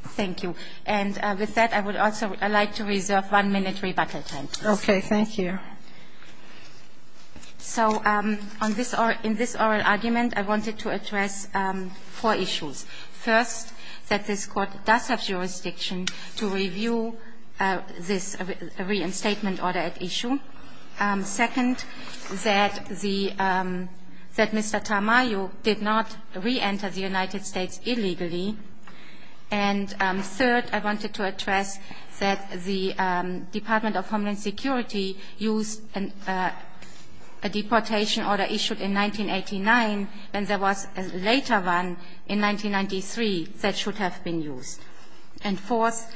Thank you. And with that, I would also like to reserve one-minute rebuttal time. Okay, thank you. So in this oral argument, I wanted to address four issues. First, that this Court does have jurisdiction to review this reinstatement order at issue. Second, that Mr. Tamayo did not reenter the United States illegally. And third, I wanted to address that the Department of Homeland Security used a deportation order issued in 1989, and there was a later one in 1993 that should have been used. And fourth,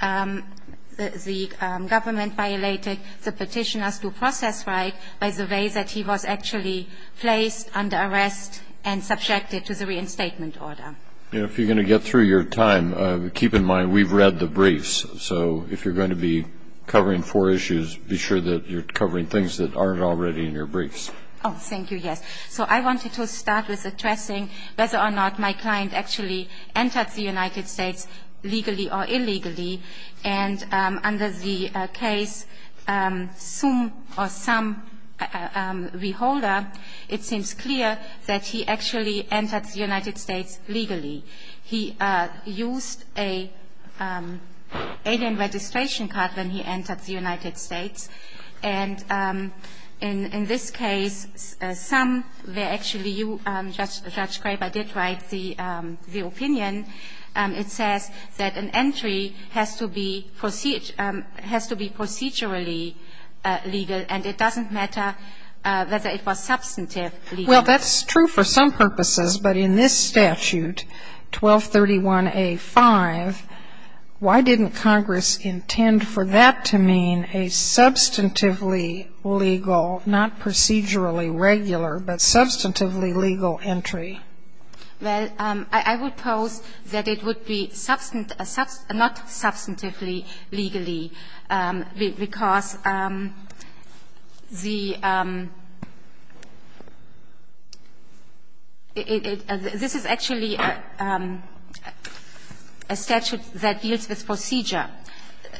the government violated the petitioner's due process right by the way that he was actually placed under arrest and subjected to the reinstatement order. If you're going to get through your time, keep in mind we've read the briefs. So if you're going to be covering four issues, be sure that you're covering things that aren't already in your briefs. Oh, thank you, yes. So I wanted to start with addressing whether or not my client actually entered the United States legally or illegally. And under the case Sum or Sum v. Holder, it seems clear that he actually entered the United States legally. He used an alien registration card when he entered the United States. And in this case, Sum, where actually you, Judge Graber, did write the opinion, it says that an entry has to be procedurally legal, and it doesn't matter whether it was substantive legal. Well, that's true for some purposes, but in this statute, 1231a5, why didn't Congress intend for that to mean a substantively legal, not procedurally regular, but substantively legal entry? Well, I would pose that it would be not substantively legally, because the ‑‑ this is actually a statute that deals with procedure.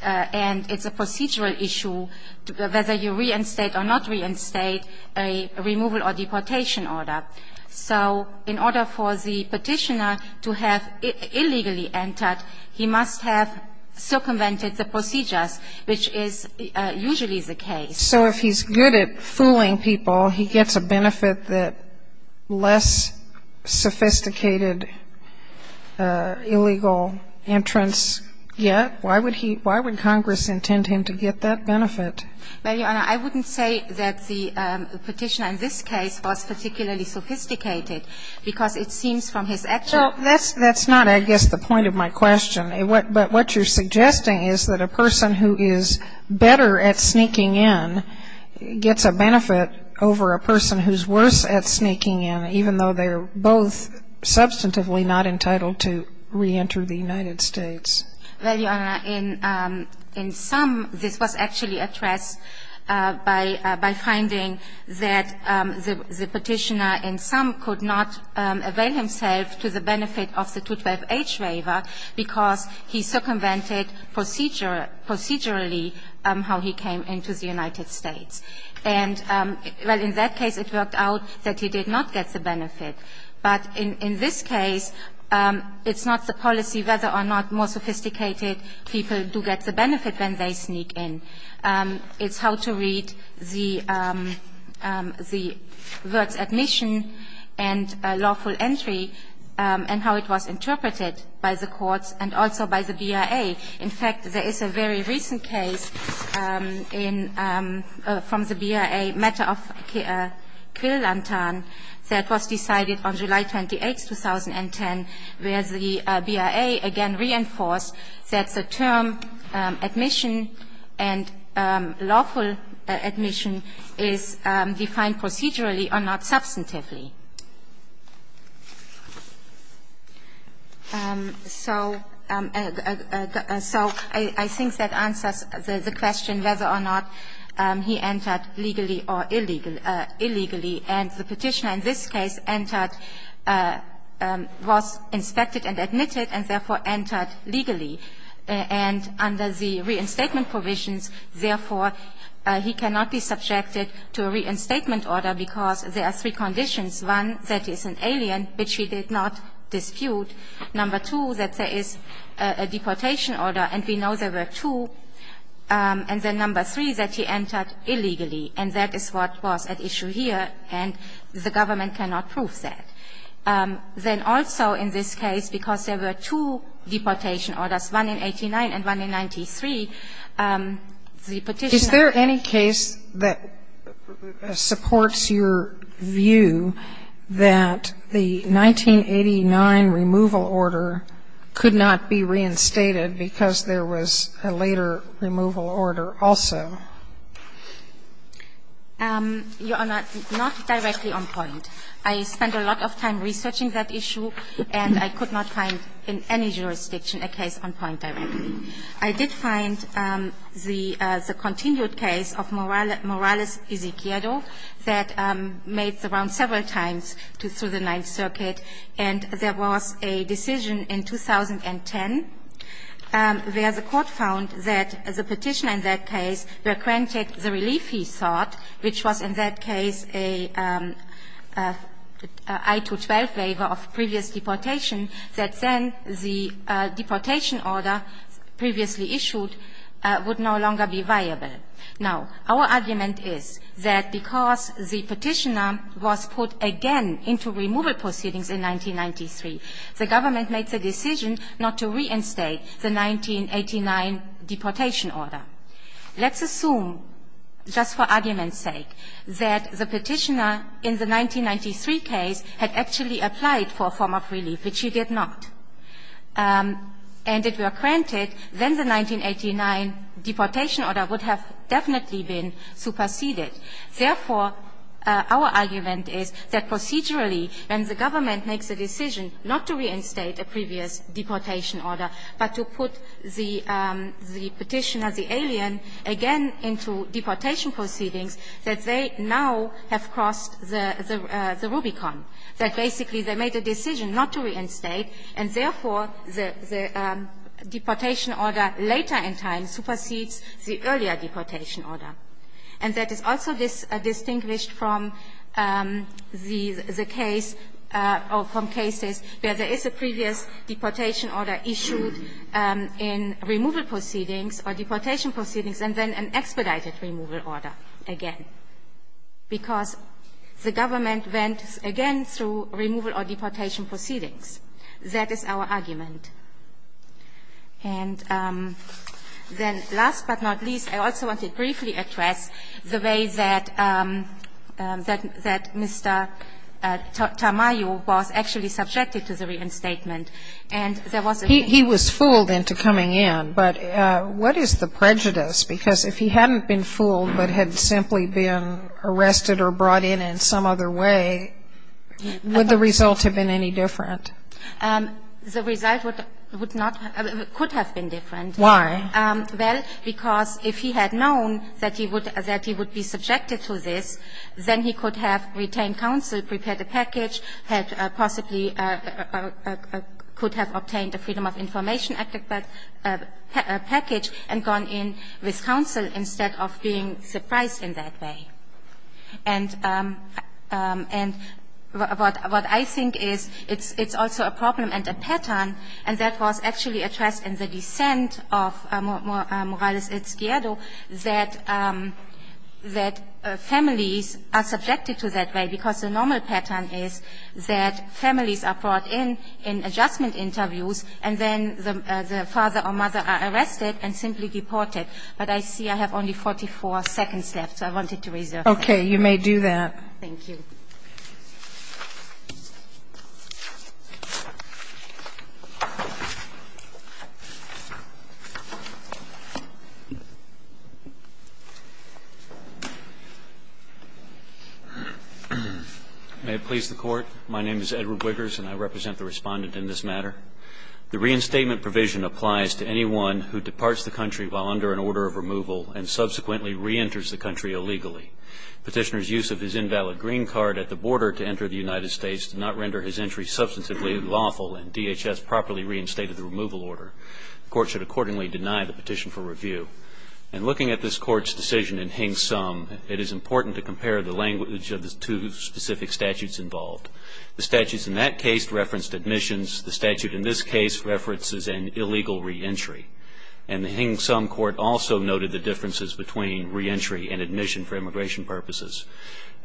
And it's a procedural issue, whether you reinstate or not reinstate a removal or deportation order. So in order for the Petitioner to have illegally entered, he must have circumvented the procedures, which is usually the case. So if he's good at fooling people, he gets a benefit that less sophisticated illegal entrance gets? Why would Congress intend him to get that benefit? Well, Your Honor, I wouldn't say that the Petitioner in this case was particularly sophisticated, because it seems from his actual ‑‑ Well, that's not, I guess, the point of my question. But what you're suggesting is that a person who is better at sneaking in gets a benefit over a person who's worse at sneaking in, even though they're both substantively not entitled to reenter the United States. Well, Your Honor, in some, this was actually addressed by finding that the Petitioner in some could not avail himself to the benefit of the 212H waiver because he circumvented procedurally how he came into the United States. And, well, in that case, it worked out that he did not get the benefit. But in this case, it's not the policy whether or not more sophisticated people do get the benefit when they sneak in. It's how to read the words admission and lawful entry and how it was interpreted by the courts and also by the BIA. In fact, there is a very recent case in ‑‑ from the BIA matter of Quill-Lantan that was decided on July 28th, 2010, where the BIA again reinforced that the term admission and lawful admission is defined procedurally or not substantively. So ‑‑ so I think that answers the question whether or not he entered legally or illegally. And the Petitioner in this case entered ‑‑ was inspected and admitted and therefore entered legally. And under the reinstatement provisions, therefore, he cannot be subjected to a reinstatement order because there are three conditions. One, that he is an alien, which he did not dispute. Number two, that there is a deportation order, and we know there were two. And then number three, that he entered illegally. And that is what was at issue here, and the government cannot prove that. Then also in this case, because there were two deportation orders, one in 89 and one in 93, the Petitioner ‑‑ Sotomayor Is there any case that supports your view that the 1989 removal order could not be reinstated because there was a later removal order also? You Honor, not directly on point. I spent a lot of time researching that issue, and I could not find in any jurisdiction a case on point directly. I did find the continued case of Morales Ezequieldo that made the round several times through the Ninth Circuit, and there was a decision in 2010 where the court found that the Petitioner in that case granted the relief he sought, which was in that case a I-212 waiver of previous deportation, that then the deportation order previously issued would no longer be viable. Now, our argument is that because the Petitioner was put again into removal proceedings in 1993, the government made the decision not to reinstate the 1989 deportation order. Let's assume, just for argument's sake, that the Petitioner in the 1993 case had actually applied for a form of relief, which he did not, and if it were granted, then the 1989 deportation order would have definitely been superseded. Therefore, our argument is that procedurally, when the government makes a decision not to reinstate a previous deportation order, but to put the Petitioner, the alien, again into deportation proceedings, that they now have crossed the Rubicon, that basically they made a decision not to reinstate, and therefore, the deportation order later in time supersedes the earlier deportation order. And that is also distinguished from the case or from cases where there is a previous deportation order issued in removal proceedings or deportation proceedings and then an expedited removal order again, because the government went again through removal or deportation proceedings. That is our argument. And then last but not least, I also want to briefly address the way that Mr. Tamayo was actually subjected to the reinstatement. And there was a ---- Sotomayor He was fooled into coming in. But what is the prejudice? Because if he hadn't been fooled but had simply been arrested or brought in in some other way, would the result have been any different? The result would not ---- could have been different. Why? Well, because if he had known that he would be subjected to this, then he could have retained counsel, prepared a package, had possibly ---- could have obtained a freedom of information package and gone in with counsel instead of being surprised in that way. And what I think is it's also a problem and a pattern. And that was actually addressed in the dissent of Morales-Ezquierdo that families are subjected to that way because the normal pattern is that families are brought in in adjustment interviews and then the father or mother are arrested and simply deported. But I see I have only 44 seconds left. So I wanted to reserve that. Okay. You may do that. Thank you. May it please the Court. My name is Edward Wiggers and I represent the Respondent in this matter. The reinstatement provision applies to anyone who departs the country while under an order of removal and subsequently reenters the country illegally. Petitioner's use of his invalid green card at the border to enter the United States did not render his entry substantively lawful and DHS properly reinstated the removal order. The Court should accordingly deny the petition for review. In looking at this Court's decision in Hing Sum, it is important to compare the language of the two specific statutes involved. The statutes in that case referenced admissions. The statute in this case references an illegal reentry. And the Hing Sum Court also noted the differences between reentry and admission for immigration purposes.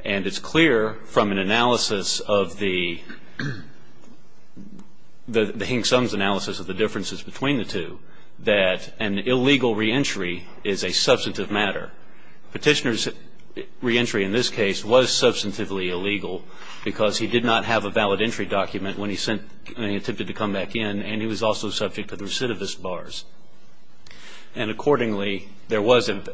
And it's clear from an analysis of the Hing Sum's analysis of the differences between the two that an illegal reentry is a substantive matter. Petitioner's reentry in this case was substantively illegal because he did not have a valid entry document when he attempted to come back in and he was also subject to the recidivist bars. And accordingly, there was an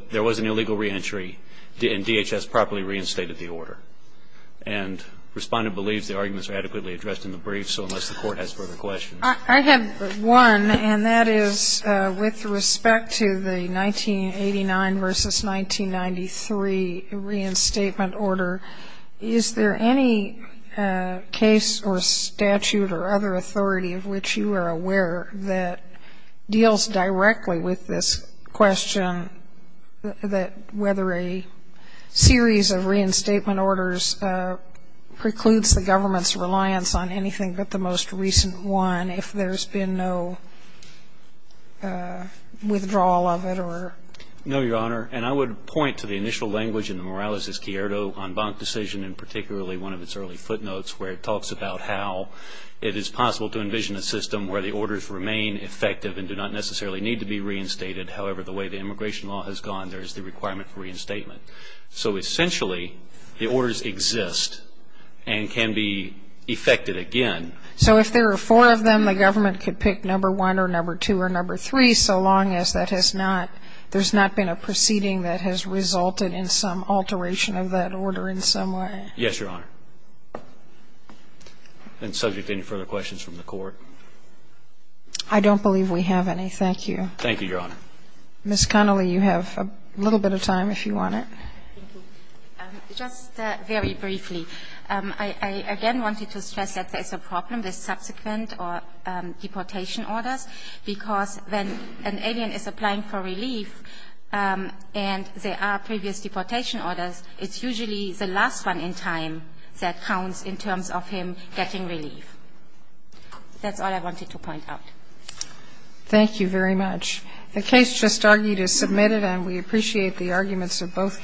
illegal reentry and DHS properly reinstated the order. And Respondent believes the arguments are adequately addressed in the brief, so unless the Court has further questions. I have one, and that is with respect to the 1989 versus 1993 reinstatement order, is there any case or statute or other authority of which you are aware that deals directly with this question that whether a series of reinstatement orders precludes the government's reliance on anything but the most recent one if there's been no withdrawal of it or? No, Your Honor. And I would point to the initial language in the Morales v. Cierto en banc decision and particularly one of its early footnotes where it talks about how it is possible to envision a system where the orders remain effective and do not necessarily need to be reinstated. However, the way the immigration law has gone, there is the requirement for reinstatement. So essentially, the orders exist and can be effected again. So if there are four of them, the government could pick number one or number two or number three so long as that has not, there's not been a proceeding that has resulted in some alteration of that order in some way? Yes, Your Honor. And subject to any further questions from the Court? I don't believe we have any. Thank you. Thank you, Your Honor. Ms. Connolly, you have a little bit of time if you want it. Thank you. Just very briefly, I again wanted to stress that there is a problem with subsequent or deportation orders because when an alien is applying for relief and there are previous deportation orders, it's usually the last one in time that counts in terms of him getting relief. That's all I wanted to point out. Thank you very much. The case just argued is submitted and we appreciate the arguments of both counsel.